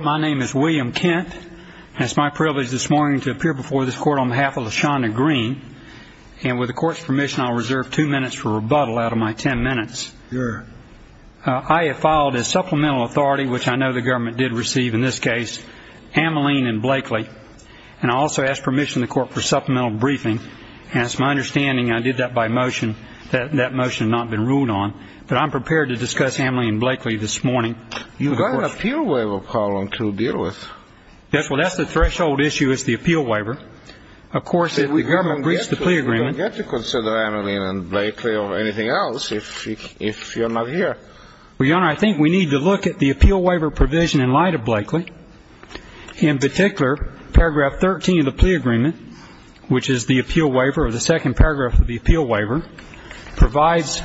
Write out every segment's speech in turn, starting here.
My name is William Kent, and it's my privilege this morning to appear before this court on behalf of LaShonda Green. And with the court's permission, I'll reserve two minutes for rebuttal out of my ten minutes. Sure. I have filed as supplemental authority, which I know the government did receive in this case, Ameline and Blakely. And I also ask permission of the court for supplemental briefing. And it's my understanding, and I did that by motion, that that motion had not been ruled on. But I'm prepared to discuss Ameline and Blakely this morning. You've got an appeal waiver problem to deal with. Yes, well, that's the threshold issue, is the appeal waiver. Of course, if the government breached the plea agreement... You don't get to consider Ameline and Blakely or anything else if you're not here. Well, Your Honor, I think we need to look at the appeal waiver provision in light of Blakely. In particular, paragraph 13 of the plea agreement, which is the appeal waiver, or the second paragraph of the appeal waiver, provides,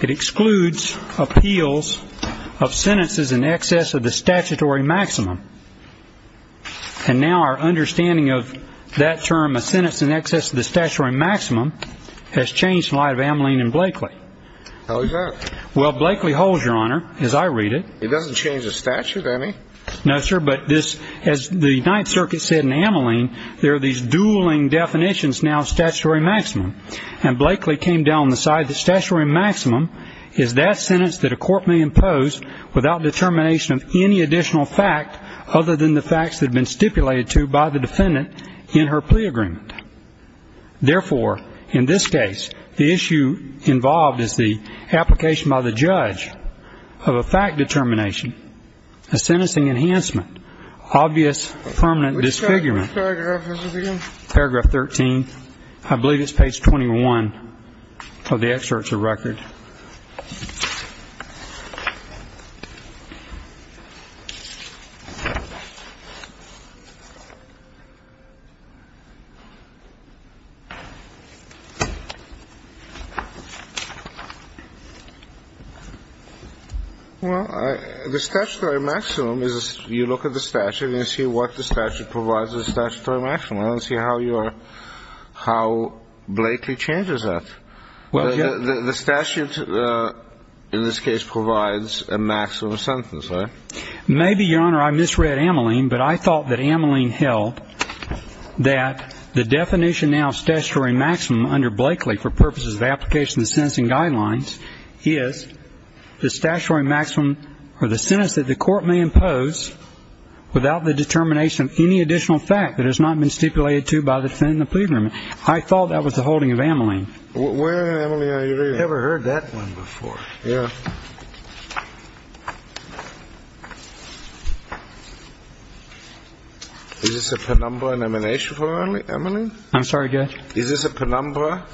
it excludes appeals of sentences in excess of the statutory maximum. And now our understanding of that term, a sentence in excess of the statutory maximum, has changed in light of Ameline and Blakely. How is that? Well, Blakely holds, Your Honor, as I read it. It doesn't change the statute, does it? No, sir, but this, as the Ninth Circuit said in Ameline, there are these dueling definitions now of statutory maximum. And Blakely came down on the side that statutory maximum is that sentence that a court may impose without determination of any additional fact other than the facts that have been stipulated to by the defendant in her plea agreement. Therefore, in this case, the issue involved is the application by the judge of a fact determination, a sentencing enhancement, obvious permanent disfigurement. Which paragraph is this again? Paragraph 13. I believe it's page 21 of the excerpt to the record. Well, the statutory maximum is you look at the statute and see what the statute provides as a statutory maximum. And see how Blakely changes that. The statute, in this case, provides a maximum sentence, right? Maybe, Your Honor, I misread Ameline, but I thought that Ameline held that the definition now of statutory maximum under Blakely for purposes of application of the sentencing guidelines is the statutory maximum or the sentence that the court may impose without the determination of any additional fact that has not been stipulated to by the defendant in the plea agreement. I thought that was the holding of Ameline. Where, Ameline, are you reading? I never heard that one before. Yeah. Is this a penumbra and emanation for Ameline? I'm sorry, Judge? Is this a penumbra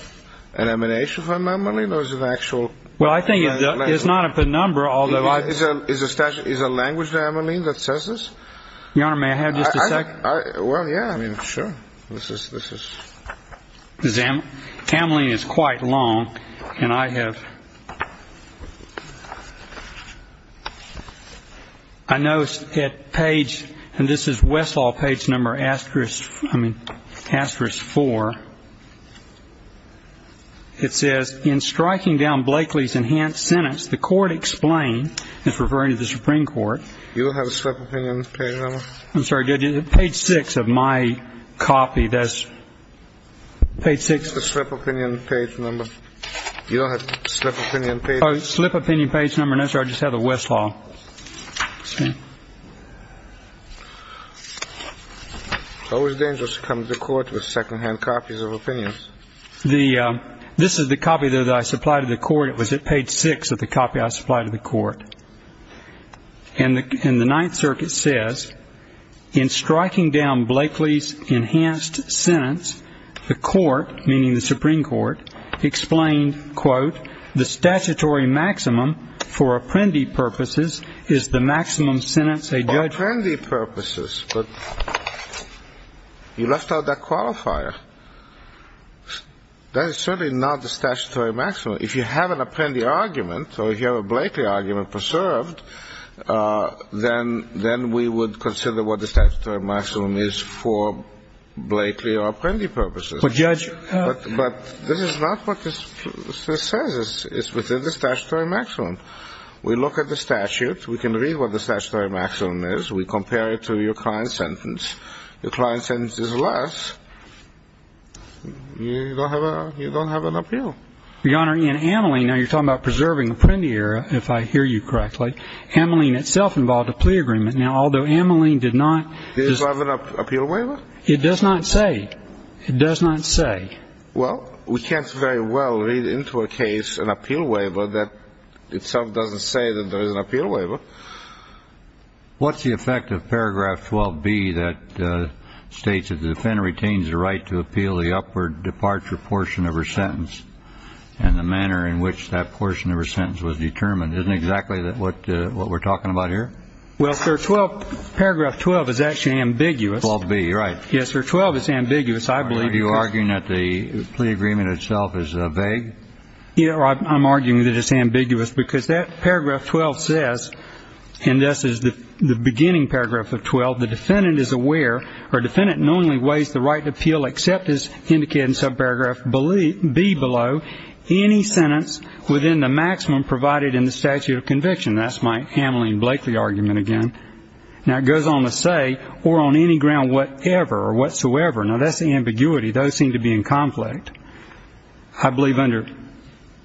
and emanation for Ameline or is it an actual? Well, I think it's not a penumbra, although I... Is a language to Ameline that says this? Your Honor, may I have just a second? Well, yeah. I mean, sure. This is... Ameline is quite long, and I have... I noticed that page, and this is Westlaw page number asterisk, I mean, asterisk four. It says, in striking down Blakely's enhanced sentence, the court explained... It's referring to the Supreme Court. You don't have a slip opinion page number? I'm sorry, Judge. Page six of my copy, that's... Page six... The slip opinion page number. You don't have a slip opinion page number? Oh, slip opinion page number, no, sir. I just have the Westlaw. Excuse me. How is it dangerous to come to the court with second-hand copies of opinions? This is the copy that I supplied to the court. It was at page six of the copy I supplied to the court. And the Ninth Circuit says, in striking down Blakely's enhanced sentence, the court, meaning the Supreme Court, explained, quote, the statutory maximum for Apprendi purposes is the maximum sentence a judge... Apprendi purposes, but you left out that qualifier. That is certainly not the statutory maximum. If you have an Apprendi argument or if you have a Blakely argument preserved, then we would consider what the statutory maximum is for Blakely or Apprendi purposes. But, Judge... But this is not what this says. It's within the statutory maximum. We look at the statute. We can read what the statutory maximum is. We compare it to your client's sentence. Your client's sentence is less. You don't have an appeal. Your Honor, in Ameline, now you're talking about preserving Apprendi error, if I hear you correctly. Ameline itself involved a plea agreement. Now, although Ameline did not... Does it have an appeal waiver? It does not say. It does not say. Well, we can't very well read into a case an appeal waiver that itself doesn't say that there is an appeal waiver. What's the effect of paragraph 12B that states that the defendant retains the right to appeal the upward departure portion of her sentence and the manner in which that portion of her sentence was determined? Isn't exactly what we're talking about here? Well, sir, paragraph 12 is actually ambiguous. 12B, right. Yes, sir. 12 is ambiguous, I believe. Are you arguing that the plea agreement itself is vague? I'm arguing that it's ambiguous because that paragraph 12 says, and this is the beginning paragraph of 12, the defendant is aware or defendant knowingly weighs the right to appeal except as indicated in subparagraph B below any sentence within the maximum provided in the statute of conviction. That's my Ameline Blakely argument again. Now, it goes on to say, or on any ground whatever or whatsoever. Now, that's the ambiguity. Those seem to be in conflict. I believe under.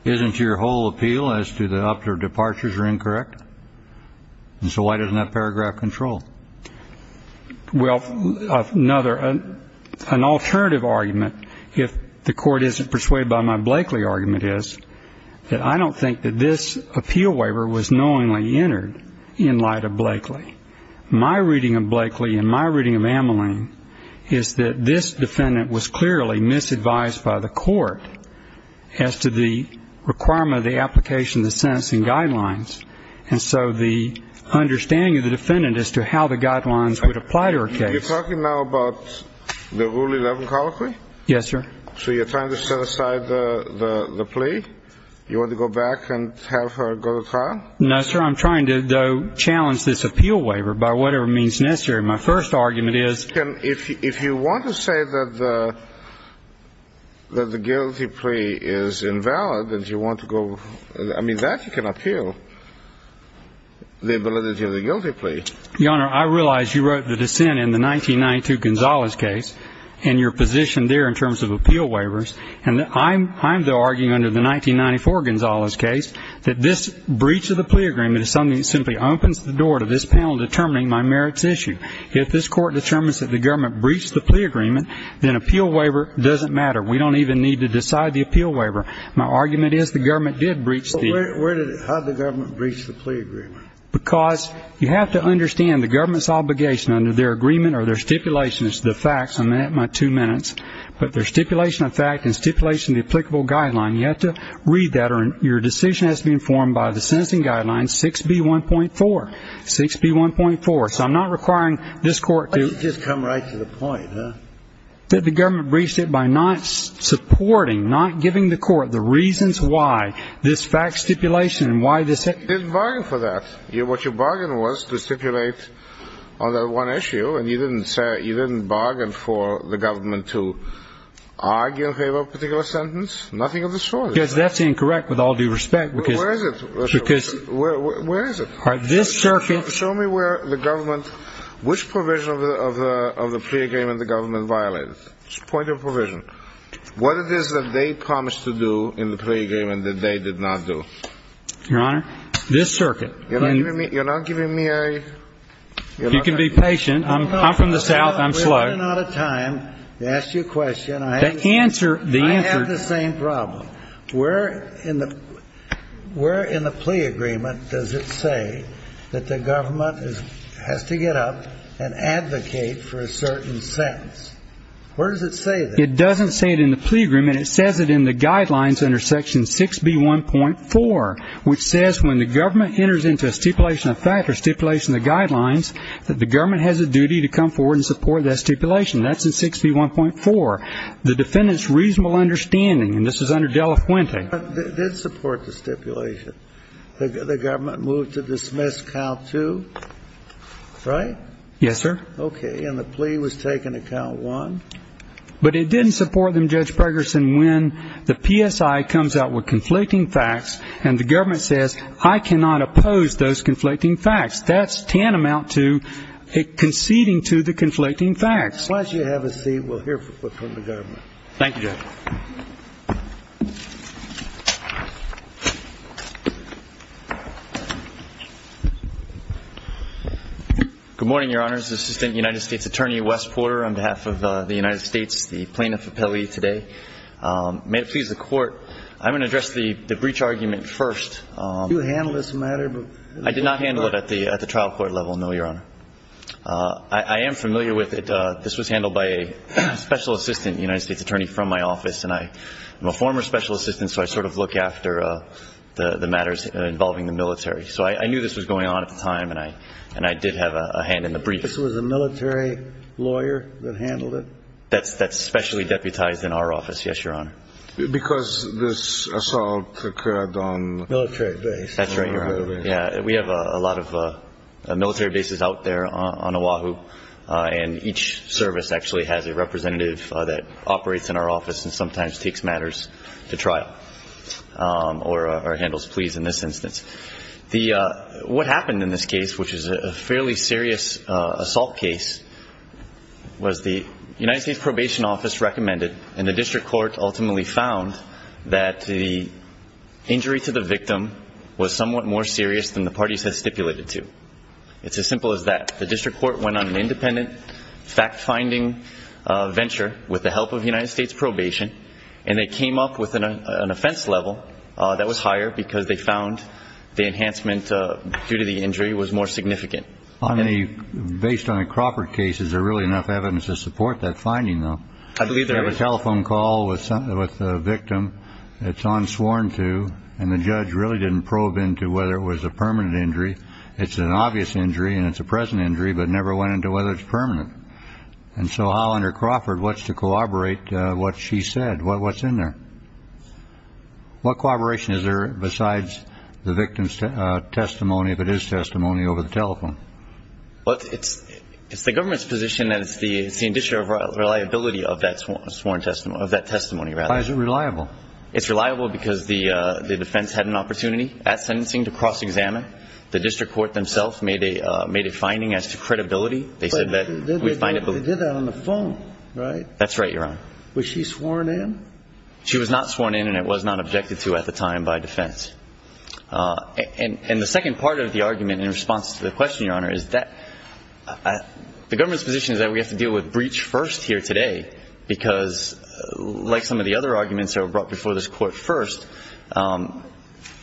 Isn't your whole appeal as to the upward departures are incorrect? And so why doesn't that paragraph control? Well, another, an alternative argument, if the court isn't persuaded by my Blakely argument, is that I don't think that this appeal waiver was knowingly entered in light of Blakely. My reading of Blakely and my reading of Ameline is that this defendant was clearly misadvised by the court as to the requirement of the application of the sentencing guidelines. And so the understanding of the defendant as to how the guidelines would apply to her case. You're talking now about the Rule 11 colloquy? Yes, sir. So you're trying to set aside the plea? You want to go back and have her go to trial? No, sir. I'm trying to, though, challenge this appeal waiver by whatever means necessary. My first argument is. If you want to say that the guilty plea is invalid and you want to go. I mean, that you can appeal the validity of the guilty plea. Your Honor, I realize you wrote the dissent in the 1992 Gonzales case, and your position there in terms of appeal waivers. And I'm, though, arguing under the 1994 Gonzales case that this breach of the plea agreement is something that simply opens the door to this panel determining my merits issue. If this court determines that the government breached the plea agreement, then appeal waiver doesn't matter. We don't even need to decide the appeal waiver. My argument is the government did breach the. How did the government breach the plea agreement? Because you have to understand the government's obligation under their agreement or their stipulations to the facts. I'm at my two minutes. But their stipulation of fact and stipulation of the applicable guideline, you have to read that, or your decision has to be informed by the sentencing guideline 6B1.4. 6B1.4. So I'm not requiring this court to. Why don't you just come right to the point, huh? That the government breached it by not supporting, not giving the court the reasons why this fact stipulation and why this. You didn't bargain for that. What you bargained was to stipulate on that one issue. And you didn't bargain for the government to argue in favor of a particular sentence. Nothing of the sort. Because that's incorrect with all due respect. Where is it? Because. Where is it? This circuit. Show me where the government, which provision of the plea agreement the government violated. Point of provision. What it is that they promised to do in the plea agreement that they did not do. Your Honor, this circuit. You're not giving me a. You can be patient. I'm from the south. I'm slow. We're running out of time to ask you a question. The answer. I have the same problem. Where in the plea agreement does it say that the government has to get up and advocate for a certain sentence? Where does it say that? It doesn't say it in the plea agreement. It says it in the guidelines under section 6B1.4, which says when the government enters into a stipulation of fact or stipulation of the guidelines, that the government has a duty to come forward and support that stipulation. That's in 6B1.4. The defendant's reasonable understanding, and this is under Delafuente. It did support the stipulation. The government moved to dismiss count two, right? Yes, sir. Okay. And the plea was taken at count one. But it didn't support them, Judge Pregerson, when the PSI comes out with conflicting facts and the government says, I cannot oppose those conflicting facts. That's tantamount to conceding to the conflicting facts. Why don't you have a seat? We'll hear from the government. Thank you, Judge. Good morning, Your Honors. This is Assistant United States Attorney Wes Porter on behalf of the United States, the plaintiff appellee today. May it please the Court, I'm going to address the breach argument first. Did you handle this matter? I did not handle it at the trial court level, no, Your Honor. I am familiar with it. This was handled by a special assistant United States attorney from my office, and I'm a former special assistant, so I sort of look after the matters involving the military. So I knew this was going on at the time, and I did have a hand in the breach. This was a military lawyer that handled it? That's specially deputized in our office, yes, Your Honor. Because this assault occurred on? Military base. That's right, Your Honor. Yeah, we have a lot of military bases out there on Oahu, and each service actually has a representative that operates in our office and sometimes takes matters to trial or handles pleas in this instance. What happened in this case, which is a fairly serious assault case, was the United States Probation Office recommended and the district court ultimately found that the injury to the victim was somewhat more serious than the parties had stipulated to. It's as simple as that. The district court went on an independent fact-finding venture with the help of the United States Probation, and they came up with an offense level that was higher because they found the enhancement due to the injury was more significant. Based on a Crawford case, is there really enough evidence to support that finding, though? I believe there is. You have a telephone call with the victim, it's unsworn to, and the judge really didn't probe into whether it was a permanent injury. It's an obvious injury and it's a present injury, but never went into whether it's permanent. And so how, under Crawford, what's to corroborate what she said? What's in there? What corroboration is there besides the victim's testimony, if it is testimony, over the telephone? It's the government's position that it's the addition of reliability of that sworn testimony, of that testimony, rather. Why is it reliable? It's reliable because the defense had an opportunity at sentencing to cross-examine. The district court themselves made a finding as to credibility. They said that we find it believable. But they did that on the phone, right? That's right, Your Honor. Was she sworn in? She was not sworn in and it was not objected to at the time by defense. And the second part of the argument in response to the question, Your Honor, is that the government's position is that we have to deal with breach first here today because, like some of the other arguments that were brought before this Court first,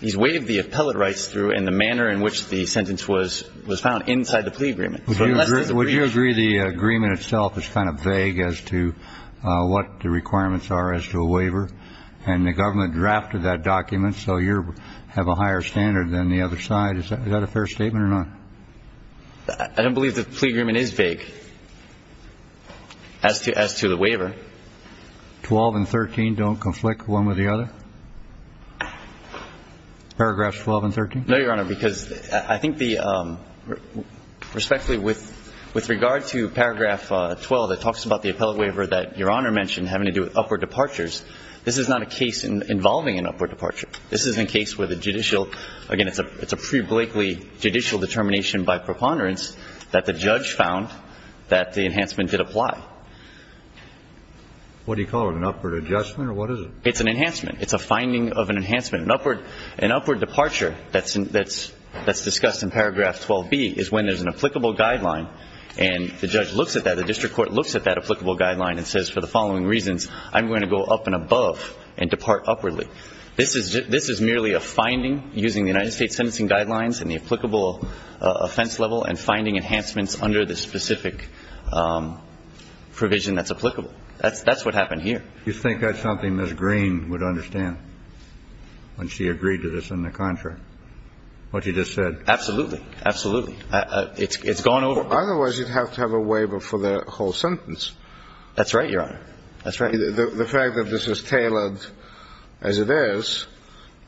he's waived the appellate rights through in the manner in which the sentence was found inside the plea agreement. Would you agree the agreement itself is kind of vague as to what the requirements are as to a waiver? And the government drafted that document, so you have a higher standard than the other side. Is that a fair statement or not? I don't believe the plea agreement is vague as to the waiver. Twelve and 13 don't conflict one with the other? Paragraphs 12 and 13? No, Your Honor, because I think the respectfully with regard to paragraph 12, it talks about the appellate waiver that Your Honor mentioned having to do with upward departures. This is not a case involving an upward departure. This is a case where the judicial, again, it's a pre-Blakely judicial determination by preponderance that the judge found that the enhancement did apply. What do you call it, an upward adjustment or what is it? It's an enhancement. It's a finding of an enhancement, an upward departure that's discussed in paragraph 12B is when there's an applicable guideline and the judge looks at that, the district court looks at that applicable guideline and says for the following reasons, I'm going to go up and above and depart upwardly. This is merely a finding using the United States sentencing guidelines and the applicable offense level and finding enhancements under the specific provision that's applicable. That's what happened here. You think that's something Ms. Green would understand when she agreed to this in the contract, what you just said? Absolutely. Absolutely. It's gone over. Otherwise, you'd have to have a waiver for the whole sentence. That's right, Your Honor. That's right. The fact that this is tailored as it is,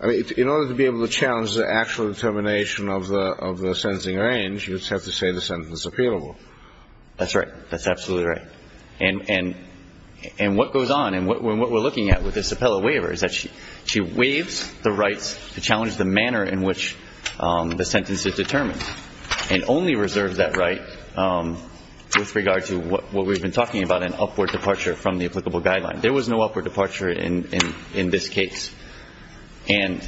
I mean, in order to be able to challenge the actual determination of the sentencing range, you'd have to say the sentence is appealable. That's right. That's absolutely right. And what goes on and what we're looking at with this appellate waiver is that she waives the rights to challenge the manner in which the sentence is determined and only reserves that right with regard to what we've been talking about, an upward departure from the applicable guideline. There was no upward departure in this case. And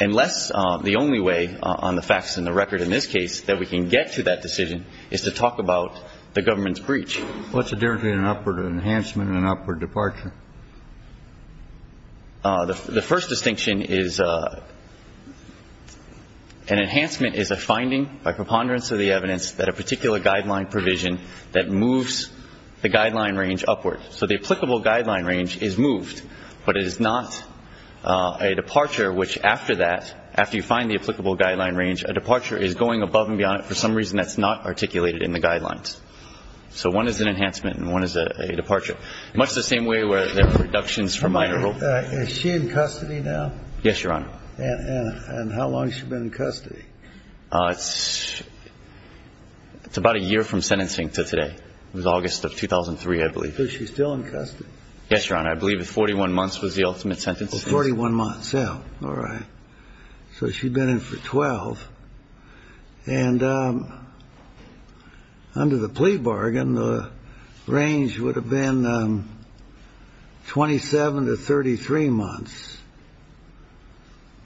unless the only way on the facts and the record in this case that we can get to that decision is to talk about the government's breach. What's the difference between an upward enhancement and an upward departure? The first distinction is an enhancement is a finding by preponderance of the evidence that a particular guideline provision that moves the guideline range upward. So the applicable guideline range is moved, but it is not a departure, which after that, after you find the applicable guideline range, a departure is going above and beyond it for some reason that's not articulated in the guidelines. So one is an enhancement and one is a departure. Much the same way where there are reductions for minor rule. Is she in custody now? Yes, Your Honor. And how long has she been in custody? It's about a year from sentencing to today. It was August of 2003, I believe. Is she still in custody? Yes, Your Honor. I believe 41 months was the ultimate sentence. 41 months. All right. So she'd been in for 12. And under the plea bargain, the range would have been 27 to 33 months.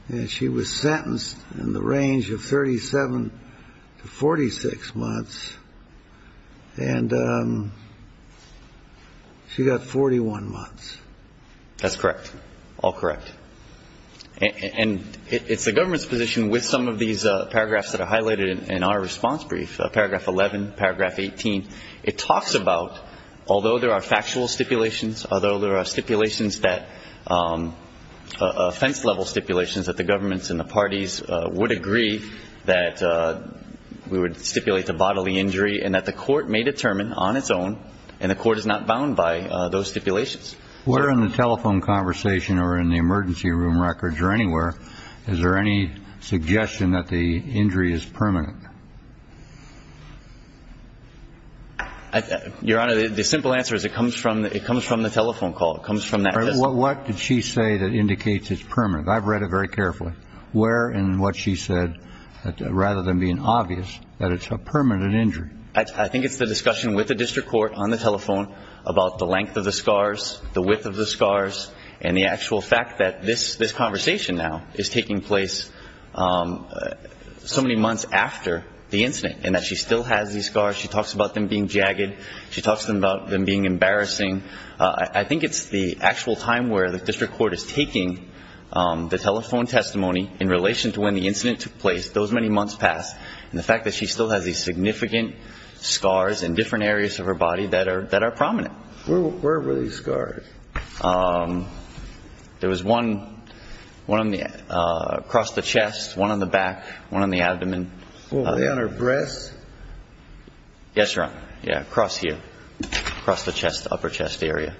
And she was sentenced in the range of 37 to 46 months. And she got 41 months. That's correct. All correct. And it's the government's position with some of these paragraphs that are highlighted in our response brief, Paragraph 11, Paragraph 18, it talks about, although there are factual stipulations, although there are stipulations that, offense-level stipulations, that the governments and the parties would agree that we would stipulate the bodily injury and that the court may determine on its own and the court is not bound by those stipulations. Where in the telephone conversation or in the emergency room records or anywhere, is there any suggestion that the injury is permanent? Your Honor, the simple answer is it comes from the telephone call. It comes from that. What did she say that indicates it's permanent? I've read it very carefully. Where in what she said, rather than being obvious, that it's a permanent injury? I think it's the discussion with the district court on the telephone about the length of the scars, the width of the scars, and the actual fact that this conversation now is taking place so many months after the incident and that she still has these scars. She talks about them being jagged. She talks about them being embarrassing. I think it's the actual time where the district court is taking the telephone testimony in relation to when the incident took place, those many months past, and the fact that she still has these significant scars in different areas of her body that are prominent. Where were these scars? There was one across the chest, one on the back, one on the abdomen. Were they on her breasts? Yes, Your Honor. Yeah, across here, across the upper chest area.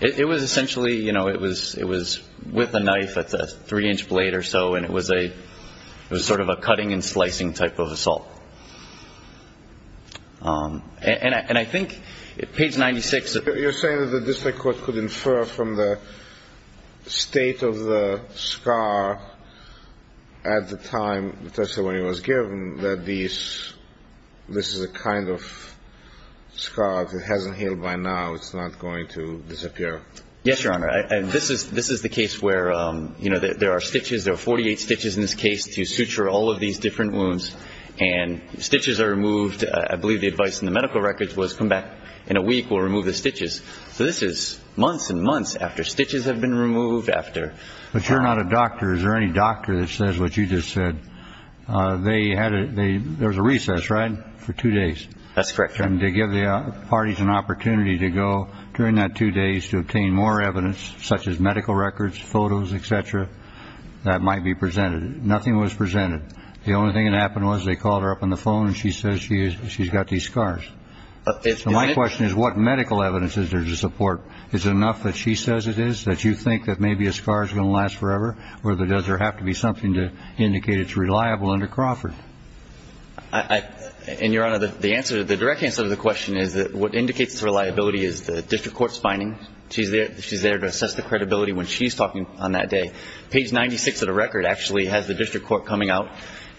It was essentially, you know, it was with a knife. It's a three-inch blade or so, and it was sort of a cutting and slicing type of assault. And I think page 96. You're saying that the district court could infer from the state of the scar at the time the testimony was given that this is a kind of scar. If it hasn't healed by now, it's not going to disappear. Yes, Your Honor. This is the case where, you know, there are stitches. There are 48 stitches in this case to suture all of these different wounds, and stitches are removed. I believe the advice in the medical records was come back in a week, we'll remove the stitches. So this is months and months after stitches have been removed after. But you're not a doctor. Is there any doctor that says what you just said? That's correct, Your Honor. And to give the parties an opportunity to go during that two days to obtain more evidence, such as medical records, photos, et cetera, that might be presented. Nothing was presented. The only thing that happened was they called her up on the phone, and she says she's got these scars. My question is, what medical evidence is there to support? Is it enough that she says it is that you think that maybe a scar is going to last forever, or does there have to be something to indicate it's reliable under Crawford? And, Your Honor, the direct answer to the question is that what indicates reliability is the district court's finding. She's there to assess the credibility when she's talking on that day. Page 96 of the record actually has the district court coming out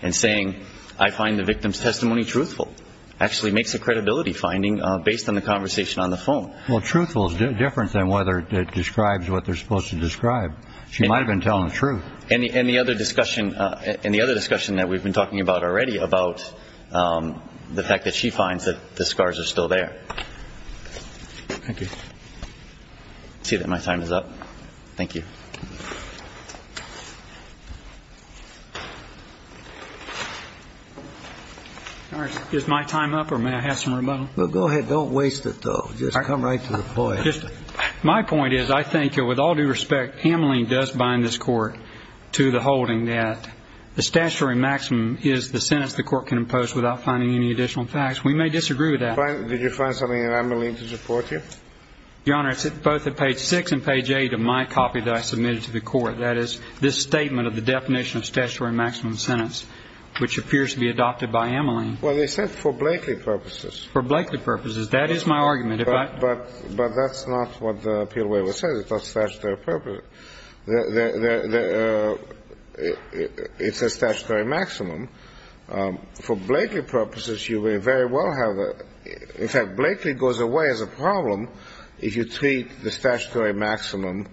and saying, I find the victim's testimony truthful. Actually makes a credibility finding based on the conversation on the phone. Well, truthful is different than whether it describes what they're supposed to describe. She might have been telling the truth. And the other discussion that we've been talking about already, about the fact that she finds that the scars are still there. Thank you. I see that my time is up. Thank you. Is my time up, or may I have some rebuttal? Well, go ahead. Don't waste it, though. Just come right to the point. My point is, I think, with all due respect, Ameline does bind this court to the holding that the statutory maximum is the sentence the court can impose without finding any additional facts. We may disagree with that. Did you find something in Ameline to support you? Your Honor, it's both at page 6 and page 8 of my copy that I submitted to the court. That is this statement of the definition of statutory maximum sentence, which appears to be adopted by Ameline. Well, they said for Blakeley purposes. For Blakeley purposes. That is my argument. But that's not what the appeal waiver says. It's not statutory purpose. It says statutory maximum. For Blakeley purposes, you may very well have a – in fact, Blakeley goes away as a problem if you treat the statutory maximum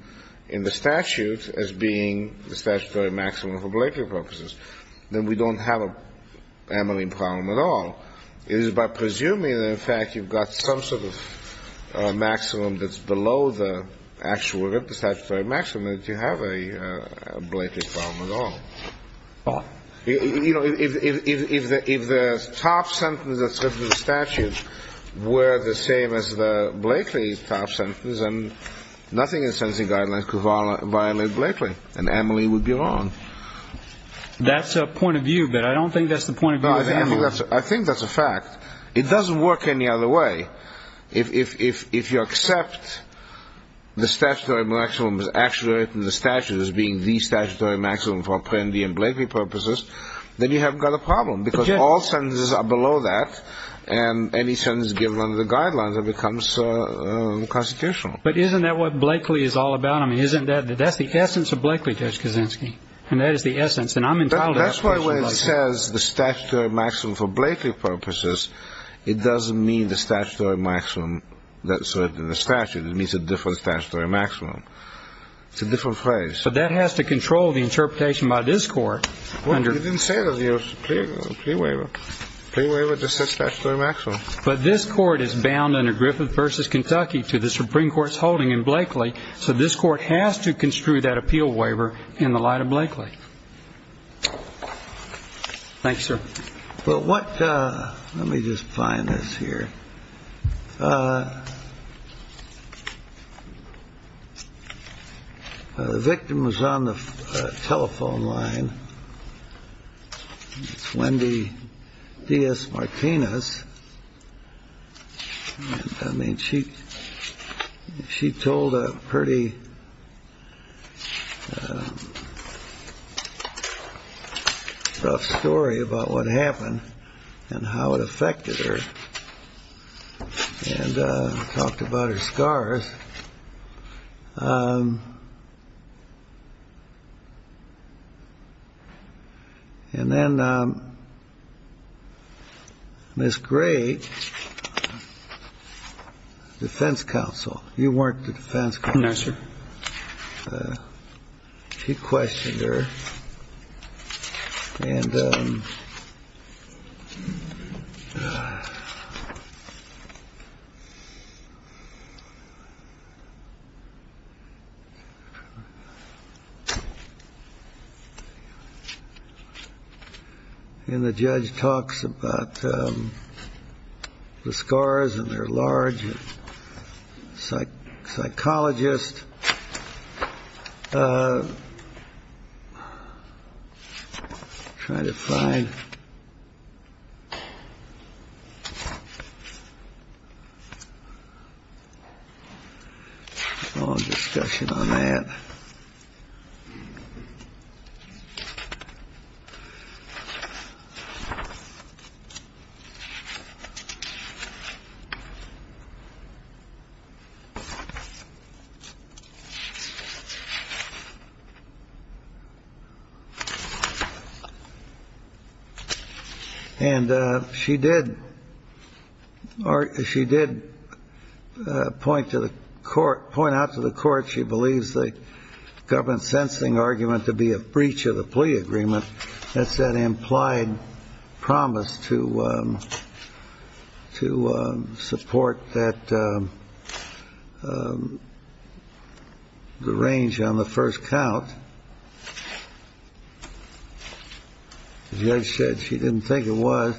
in the statute as being the statutory maximum for Blakeley purposes. Then we don't have an Ameline problem at all. It is by presuming that, in fact, you've got some sort of maximum that's below the actual statutory maximum that you have a Blakeley problem at all. Why? You know, if the top sentence that's written in the statute were the same as the Blakeley top sentence, then nothing in the sentencing guidelines could violate Blakeley, and Ameline would be wrong. That's a point of view, but I don't think that's the point of view of Ameline. No, I think that's a fact. It doesn't work any other way. If you accept the statutory maximum is actually written in the statute as being the statutory maximum for Apprendi and Blakeley purposes, then you haven't got a problem because all sentences are below that, and any sentence given under the guidelines becomes constitutional. But isn't that what Blakeley is all about? I mean, isn't that – that's the essence of Blakeley, Judge Kaczynski, and that is the essence. That's why when it says the statutory maximum for Blakeley purposes, it doesn't mean the statutory maximum that's written in the statute. It means a different statutory maximum. It's a different phrase. But that has to control the interpretation by this Court. Well, you didn't say that in your plea waiver. The plea waiver just says statutory maximum. But this Court is bound under Griffith v. Kentucky to the Supreme Court's holding in Blakeley, so this Court has to construe that appeal waiver in the light of Blakeley. Thanks, sir. But what – let me just find this here. The victim was on the telephone line. It's Wendy Diaz Martinez. I mean, she told a pretty rough story about what happened and how it affected her and talked about her scars. And then Ms. Gray, defense counsel – you weren't the defense counsel. She questioned her, and the judge talks about the scars and they're large. Psychologist. Trying to find – long discussion on that. And she did – or she did point to the court – point out to the court she believes the government should not have done that. And then she made a point about the government's sensing argument to be a breach of the plea agreement. That's that implied promise to support that – the range on the first count. The judge said she didn't think it was.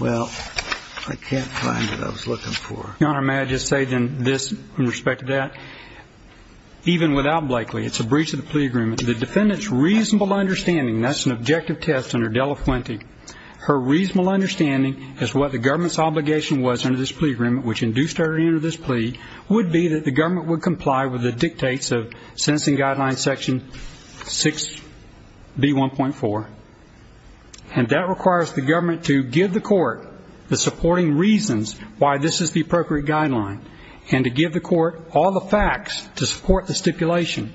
Well, I can't find what I was looking for. Your Honor, may I just say then this in respect to that? Even without Blakeley, it's a breach of the plea agreement. The defendant's reasonable understanding – that's an objective test under Dela Fuente. Her reasonable understanding is what the government's obligation was under this plea agreement, which induced her to enter this plea, would be that the government would comply with the dictates of sentencing guideline section 6B1.4. And that requires the government to give the court the supporting reasons why this is the appropriate guideline and to give the court all the facts to support the stipulation.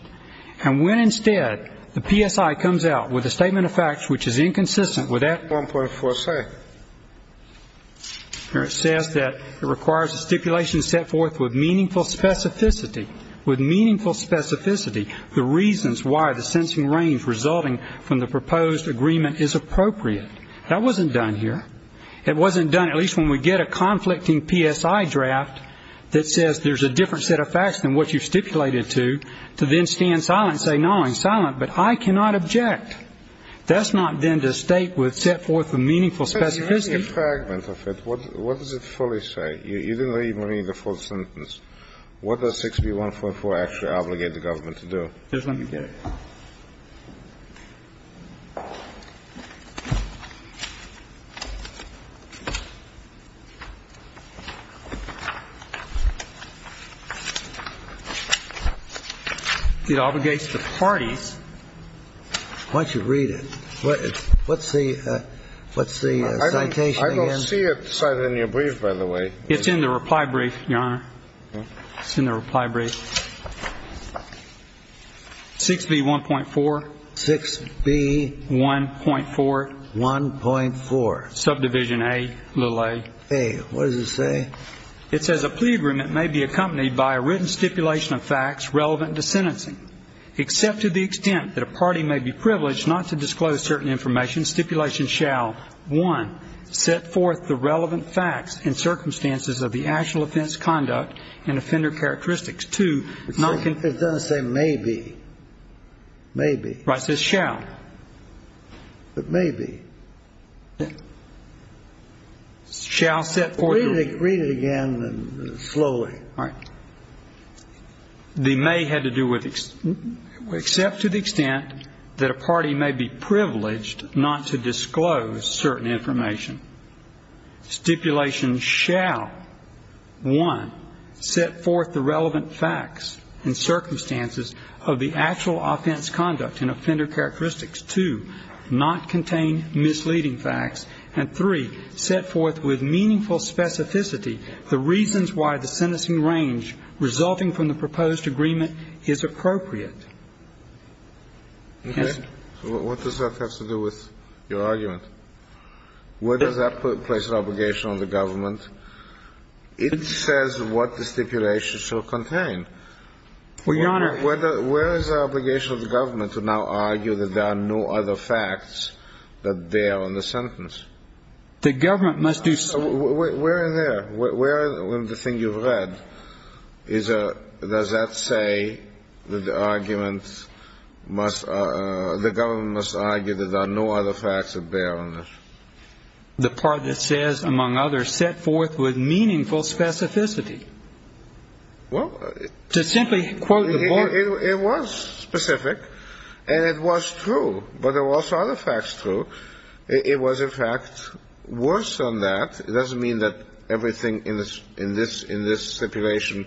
And when, instead, the PSI comes out with a statement of facts which is inconsistent with that 1.4C, where it says that it requires a stipulation set forth with meaningful specificity, the reasons why the sentencing range resulting from the proposed agreement is appropriate. That wasn't done here. It wasn't done, at least when we get a conflicting PSI draft that says there's a different set of facts than what you've stipulated to, to then stand silent and say, no, I'm silent, but I cannot object. That's not then to state what's set forth with meaningful specificity. But you're missing a fragment of it. What does it fully say? You didn't even read the full sentence. What does 6B144 actually obligate the government to do? Just let me get it. It obligates the parties. Why don't you read it? What's the citation again? I don't see it cited in your brief, by the way. It's in the reply brief, Your Honor. It's in the reply brief. 6B1.4. 6B1.4. 1.4. Subdivision A, little a. A. What does it say? It says a plea agreement may be accompanied by a written stipulation of facts relevant to sentencing. Except to the extent that a party may be privileged not to disclose certain information, stipulation shall, one, set forth the relevant facts and circumstances of the actual offense conduct and offender characteristics. Two. It doesn't say maybe. Maybe. Right. It says shall. But maybe. Shall set forth. Read it again slowly. All right. The may had to do with except to the extent that a party may be privileged not to disclose certain information. Stipulation shall, one, set forth the relevant facts and circumstances of the actual offense conduct and offender characteristics. Two. Not contain misleading facts. And three. Meaningful specificity. The reasons why the sentencing range resulting from the proposed agreement is appropriate. What does that have to do with your argument? Where does that place an obligation on the government? It says what the stipulation shall contain. Well, Your Honor. Where is the obligation of the government to now argue that there are no other facts that there on the sentence? The government must do so. Where in there? Where in the thing you've read does that say that the government must argue that there are no other facts that there on the sentence? The part that says, among others, set forth with meaningful specificity. Well. To simply quote the board. It was specific. And it was true. But there were also other facts true. It was, in fact, worse than that. It doesn't mean that everything in this stipulation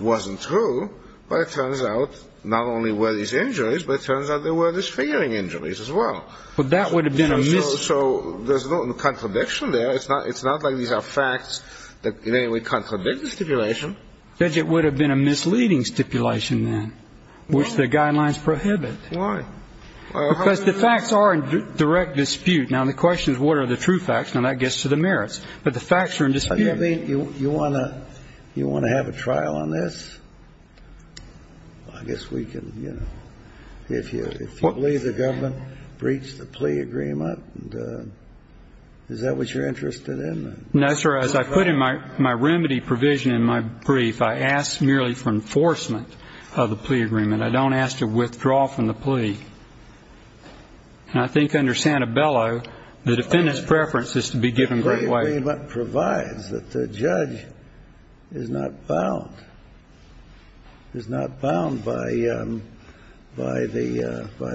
wasn't true. But it turns out not only were these injuries, but it turns out there were disfiguring injuries as well. But that would have been a misleading. So there's no contradiction there. It's not like these are facts that in any way contradict the stipulation. Because it would have been a misleading stipulation then, which the guidelines prohibit. Why? Because the facts are in direct dispute. Now, the question is, what are the true facts? Now, that gets to the merits. But the facts are in dispute. You want to have a trial on this? I guess we can, you know. If you believe the government breached the plea agreement, is that what you're interested in? No, sir. As I put in my remedy provision in my brief, I ask merely for enforcement of the plea agreement. I don't ask to withdraw from the plea. And I think under Santabello, the defendant's preference is to be given great weight. The plea agreement provides that the judge is not bound by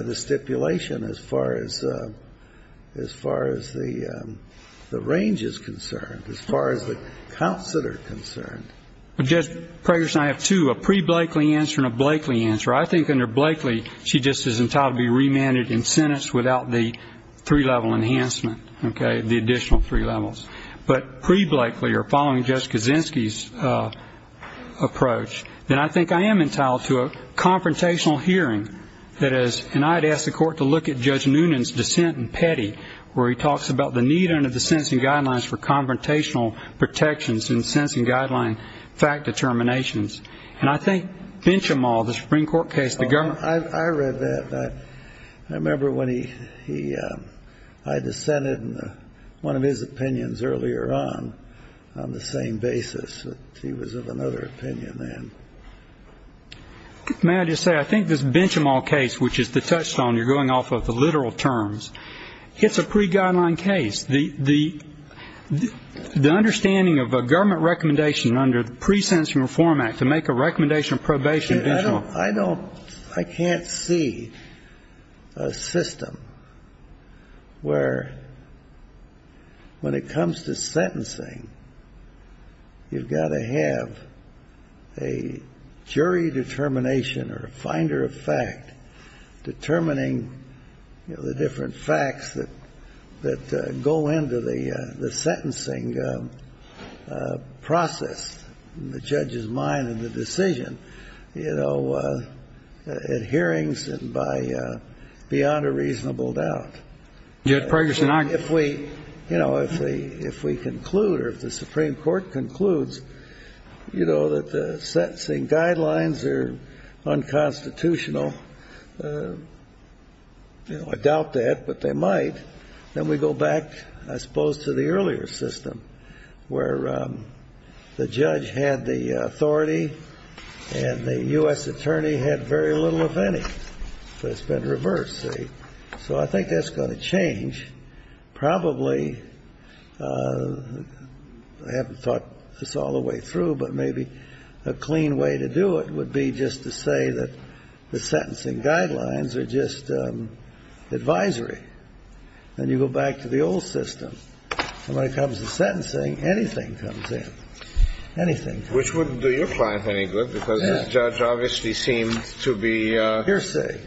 the stipulation as far as the range is concerned, as far as the counts that are concerned. Judge Preggers and I have two, a pre-Blakely answer and a Blakely answer. I think under Blakely, she just is entitled to be remanded in sentence without the three-level enhancement, okay, the additional three levels. But pre-Blakely or following Judge Kaczynski's approach, then I think I am entitled to a confrontational hearing. That is, and I'd ask the court to look at Judge Noonan's dissent in Petty, where he talks about the need under the sentencing guidelines for confrontational protections in sentencing guideline fact determinations. And I think Benchimol, the Supreme Court case, the government. I read that. I remember when he, I dissented in one of his opinions earlier on, on the same basis. He was of another opinion then. May I just say, I think this Benchimol case, which is the touchstone, you're going off of the literal terms, it's a pre-guideline case. The understanding of a government recommendation under the Pre-Sentencing Reform Act to make a recommendation of probation additional. I can't see a system where, when it comes to sentencing, you've got to have a jury determination or a finder of fact determining the different facts that go into the sentencing process in the judge's mind and the decision, you know, at hearings and beyond a reasonable doubt. If we, you know, if we conclude or if the Supreme Court concludes, you know, that the sentencing guidelines are unconstitutional, you know, I doubt that, but they might, then we go back, I suppose, to the earlier system where the judge had the authority and the U.S. attorney had very little, if any. But it's been reversed, see? So I think that's going to change. Probably, I haven't thought this all the way through, but maybe a clean way to do it would be just to say that the sentencing guidelines are just advisory. Then you go back to the old system, and when it comes to sentencing, anything comes in. Anything. Which wouldn't do your client any good, because this judge obviously seemed to be... Hearsay.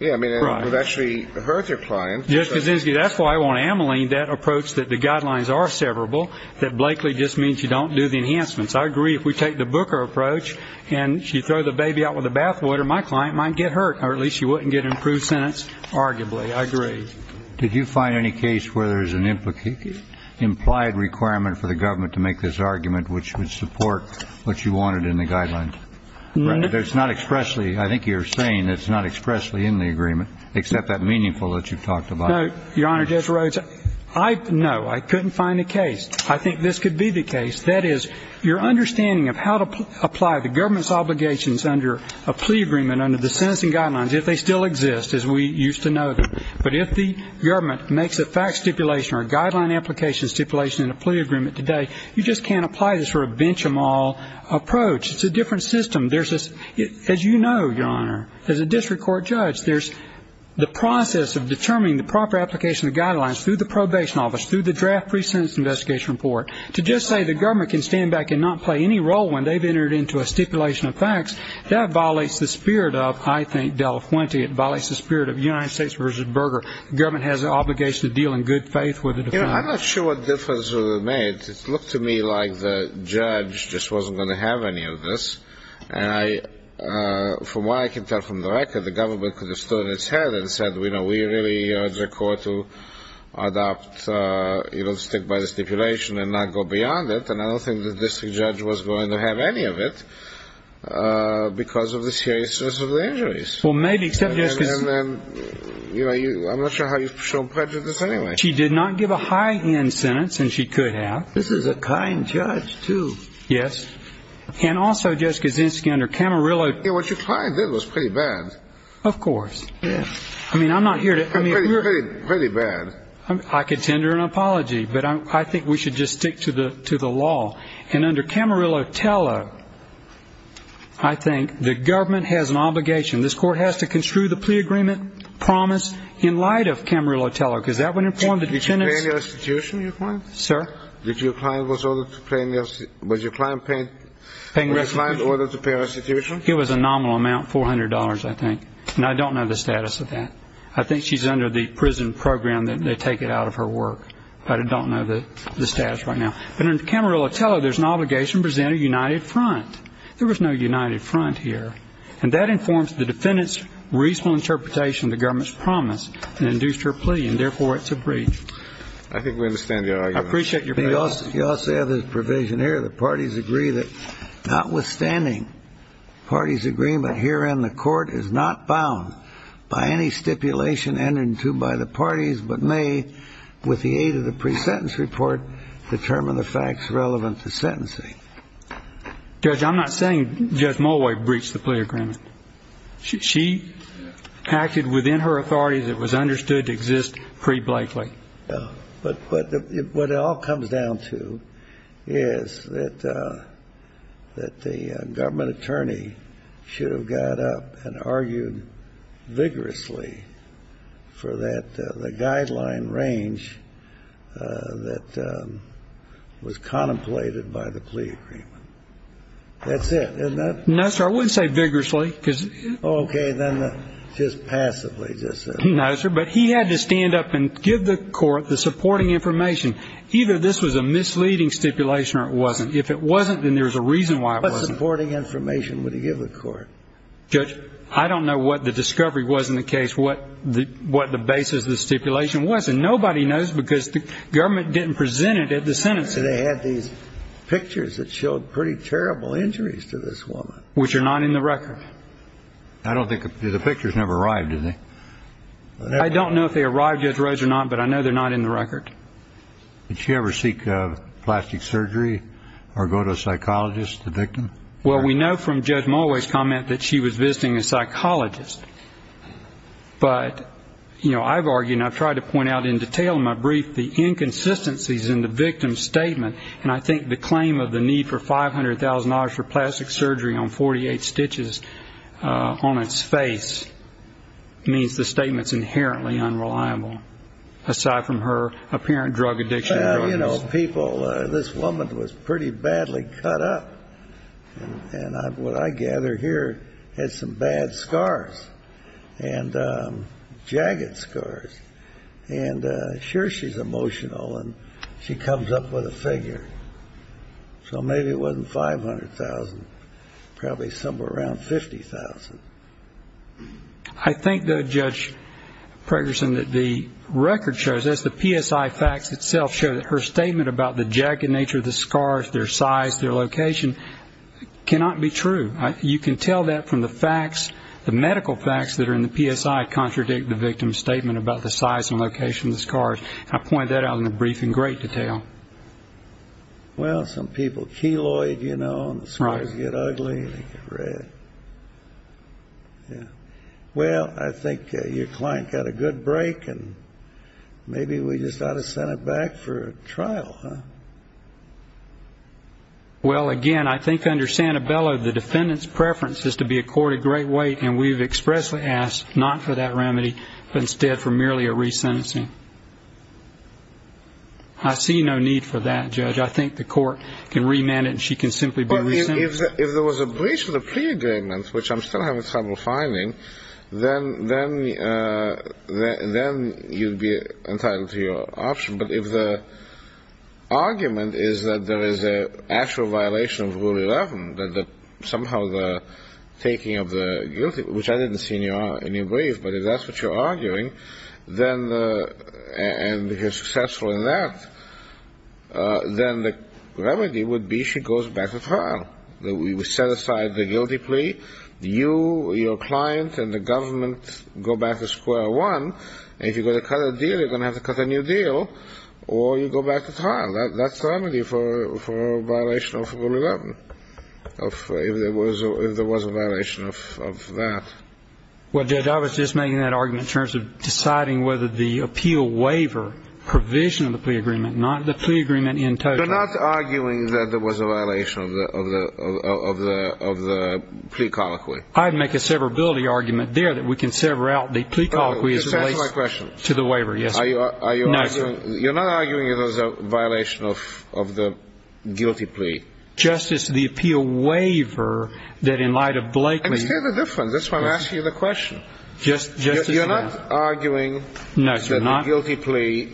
Yeah, I mean, it would actually hurt your client. Just because that's why I want to ameliorate that approach that the guidelines are severable, that blakely just means you don't do the enhancements. I agree if we take the Booker approach and you throw the baby out with the bathwater, my client might get hurt, or at least she wouldn't get an approved sentence, arguably. I agree. Did you find any case where there's an implied requirement for the government to make this argument which would support what you wanted in the guidelines? No. I think you're saying it's not expressly in the agreement, except that meaningful that you've talked about. No, Your Honor, Judge Rhodes. No, I couldn't find a case. I think this could be the case. That is, your understanding of how to apply the government's obligations under a plea agreement, under the sentencing guidelines, if they still exist as we used to know them. But if the government makes a fact stipulation or a guideline application stipulation in a plea agreement today, you just can't apply this for a bench-them-all approach. It's a different system. As you know, Your Honor, as a district court judge, there's the process of determining the proper application of guidelines through the probation office, through the draft pre-sentence investigation report. To just say the government can stand back and not play any role when they've entered into a stipulation of facts, that violates the spirit of, I think, Del Fuente. It violates the spirit of United States v. Berger. The government has an obligation to deal in good faith with the defense. I'm not sure what difference it would have made. It looked to me like the judge just wasn't going to have any of this. And from what I can tell from the record, the government could have stood on its head and said, you know, we really urge the court to adopt, you know, stick by the stipulation and not go beyond it. And I don't think the district judge was going to have any of it because of the serious injuries. Well, maybe. I'm not sure how you've shown prejudice anyway. She did not give a high-end sentence, and she could have. This is a kind judge, too. Yes. And also, Judge Kaczynski, under Camarillo... Yeah, what your client did was pretty bad. Of course. Yeah. I mean, I'm not here to... Pretty bad. I could send her an apology, but I think we should just stick to the law. And under Camarillo Tello, I think the government has an obligation. This court has to construe the plea agreement promise in light of Camarillo Tello because that would inform the defendant's... Did you pay the restitution, your client? Sir? Did your client was ordered to pay the restitution? It was a nominal amount, $400, I think, and I don't know the status of that. I think she's under the prison program that they take it out of her work, but I don't know the status right now. But under Camarillo Tello, there's an obligation to present a united front. There was no united front here, and that informs the defendant's reasonable interpretation of the government's promise and induced her plea, and therefore it's a breach. I think we understand the argument. I appreciate your... You also have this provision here. The parties agree that notwithstanding parties' agreement, herein the court is not bound by any stipulation entered into by the parties but may, with the aid of the pre-sentence report, determine the facts relevant to sentencing. Judge, I'm not saying Judge Mulway breached the plea agreement. She acted within her authority that was understood to exist pre-Blakely. But what it all comes down to is that the government attorney should have got up and argued vigorously for the guideline range that was contemplated by the plea agreement. That's it, isn't it? No, sir. I wouldn't say vigorously. Oh, okay. Then just passively, just so. No, sir. But he had to stand up and give the court the supporting information. Either this was a misleading stipulation or it wasn't. If it wasn't, then there's a reason why it wasn't. What supporting information would he give the court? Judge, I don't know what the discovery was in the case, what the basis of the stipulation was, and nobody knows because the government didn't present it at the sentencing. They had these pictures that showed pretty terrible injuries to this woman. Which are not in the record. I don't think the pictures never arrived, do they? I don't know if they arrived, Judge Rose, or not, but I know they're not in the record. Did she ever seek plastic surgery or go to a psychologist, the victim? Well, we know from Judge Mulway's comment that she was visiting a psychologist. But, you know, I've argued and I've tried to point out in detail in my brief, the inconsistencies in the victim's statement. And I think the claim of the need for $500,000 for plastic surgery on 48 stitches on its face means the statement's inherently unreliable, aside from her apparent drug addiction. Well, you know, people, this woman was pretty badly cut up. And what I gather here had some bad scars and jagged scars. And sure she's emotional and she comes up with a figure. So maybe it wasn't $500,000, probably somewhere around $50,000. I think, though, Judge Pregerson, that the record shows, as the PSI facts itself show, that her statement about the jagged nature of the scars, their size, their location, cannot be true. You can tell that from the facts, the medical facts that are in the PSI do not contradict the victim's statement about the size and location of the scars. I point that out in the brief in great detail. Well, some people, keloid, you know, and the scars get ugly and they get red. Well, I think your client got a good break, and maybe we just ought to send her back for a trial, huh? Well, again, I think under Santabella, the defendant's preference is to be a court of great weight, and we've expressly asked not for that remedy, but instead for merely a resentencing. I see no need for that, Judge. I think the court can remand it and she can simply be resentenced. If there was a breach of the plea agreement, which I'm still having trouble finding, then you'd be entitled to your option. But if the argument is that there is an actual violation of Rule 11, that somehow the taking of the guilty, which I didn't see in your brief, but if that's what you're arguing and you're successful in that, then the remedy would be she goes back to trial. We set aside the guilty plea, you, your client, and the government go back to square one, and if you're going to cut a deal, you're going to have to cut a new deal, or you go back to trial. That's the remedy for a violation of Rule 11, if there was a violation of that. Well, Judge, I was just making that argument in terms of deciding whether the appeal waiver provision of the plea agreement, not the plea agreement in total. You're not arguing that there was a violation of the plea colloquy. I'd make a severability argument there that we can sever out the plea colloquy as it relates to the waiver, yes. Are you arguing? No, sir. You're not arguing that there was a violation of the guilty plea? Justice, the appeal waiver that, in light of Blakely's ---- I understand the difference. That's why I'm asking you the question. Justice, you're not arguing that the guilty plea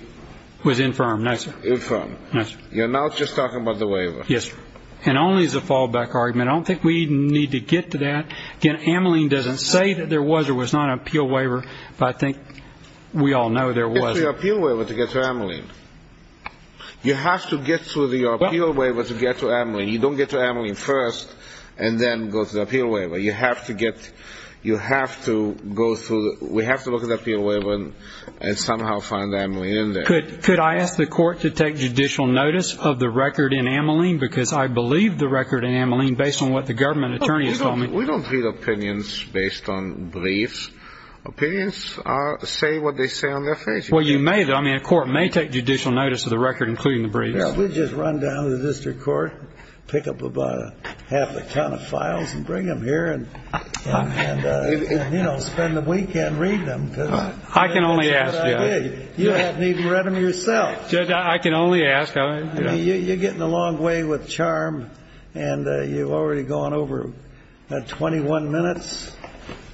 was infirm. No, sir. Infirm. No, sir. You're not just talking about the waiver. Yes, sir. And only as a fallback argument. I don't think we need to get to that. Again, Ameline doesn't say that there was or was not an appeal waiver, but I think we all know there was. Get to the appeal waiver to get to Ameline. You have to get to the appeal waiver to get to Ameline. You don't get to Ameline first and then go to the appeal waiver. You have to get to the appeal waiver and somehow find Ameline in there. Could I ask the court to take judicial notice of the record in Ameline? Because I believe the record in Ameline, based on what the government attorneys told me ---- We don't read opinions based on briefs. Opinions say what they say on their pages. Well, you may, though. I mean, a court may take judicial notice of the record, including the briefs. We just run down to the district court, pick up about half a ton of files, and bring them here and, you know, spend the weekend reading them. I can only ask, Judge. You haven't even read them yourself. Judge, I can only ask. You're getting a long way with charm, and you've already gone over 21 minutes.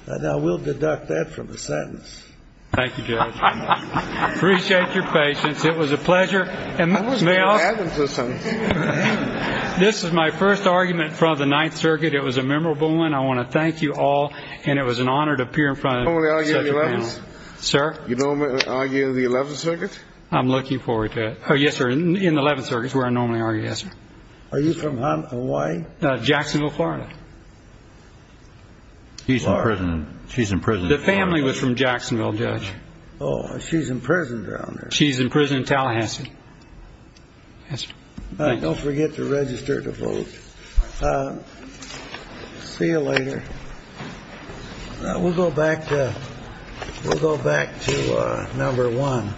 Now, we'll deduct that from the sentence. Thank you, Judge. Appreciate your patience. It was a pleasure. I wasn't going to add them to the sentence. This is my first argument in front of the Ninth Circuit. It was a memorable one. I want to thank you all, and it was an honor to appear in front of such a panel. You don't want to argue in the Eleventh Circuit? I'm looking forward to it. Oh, yes, sir. In the Eleventh Circuit is where I normally argue, yes, sir. Are you from Hawaii? Jacksonville, Florida. He's in prison. She's in prison. The family was from Jacksonville, Judge. Oh, she's in prison down there. She's in prison in Tallahassee. Don't forget to register to vote. See you later. We'll go back to number one.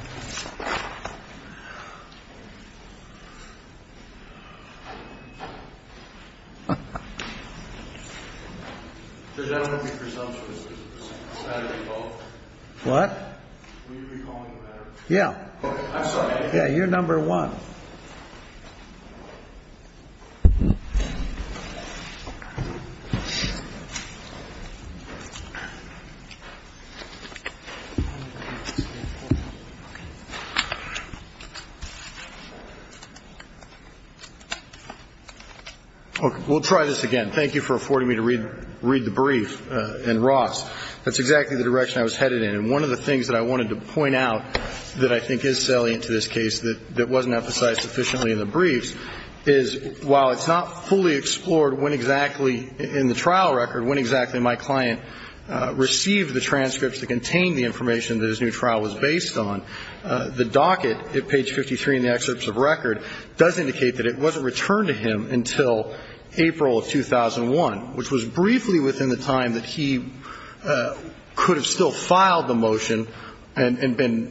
What? Yeah. Yeah, you're number one. We'll try this again. Thank you for affording me to read the brief in Ross. That's exactly the direction I was headed in. And one of the things that I wanted to point out that I think is salient to this case that wasn't emphasized sufficiently in the briefs is, while it's not fully explored when exactly in the trial record, when exactly my client received the transcripts that contained the information that his new trial was based on, the docket at page 53 in the excerpts of record does indicate that it wasn't returned to him until April of 2001, which was briefly within the time that he could have still filed the motion and been acquitted.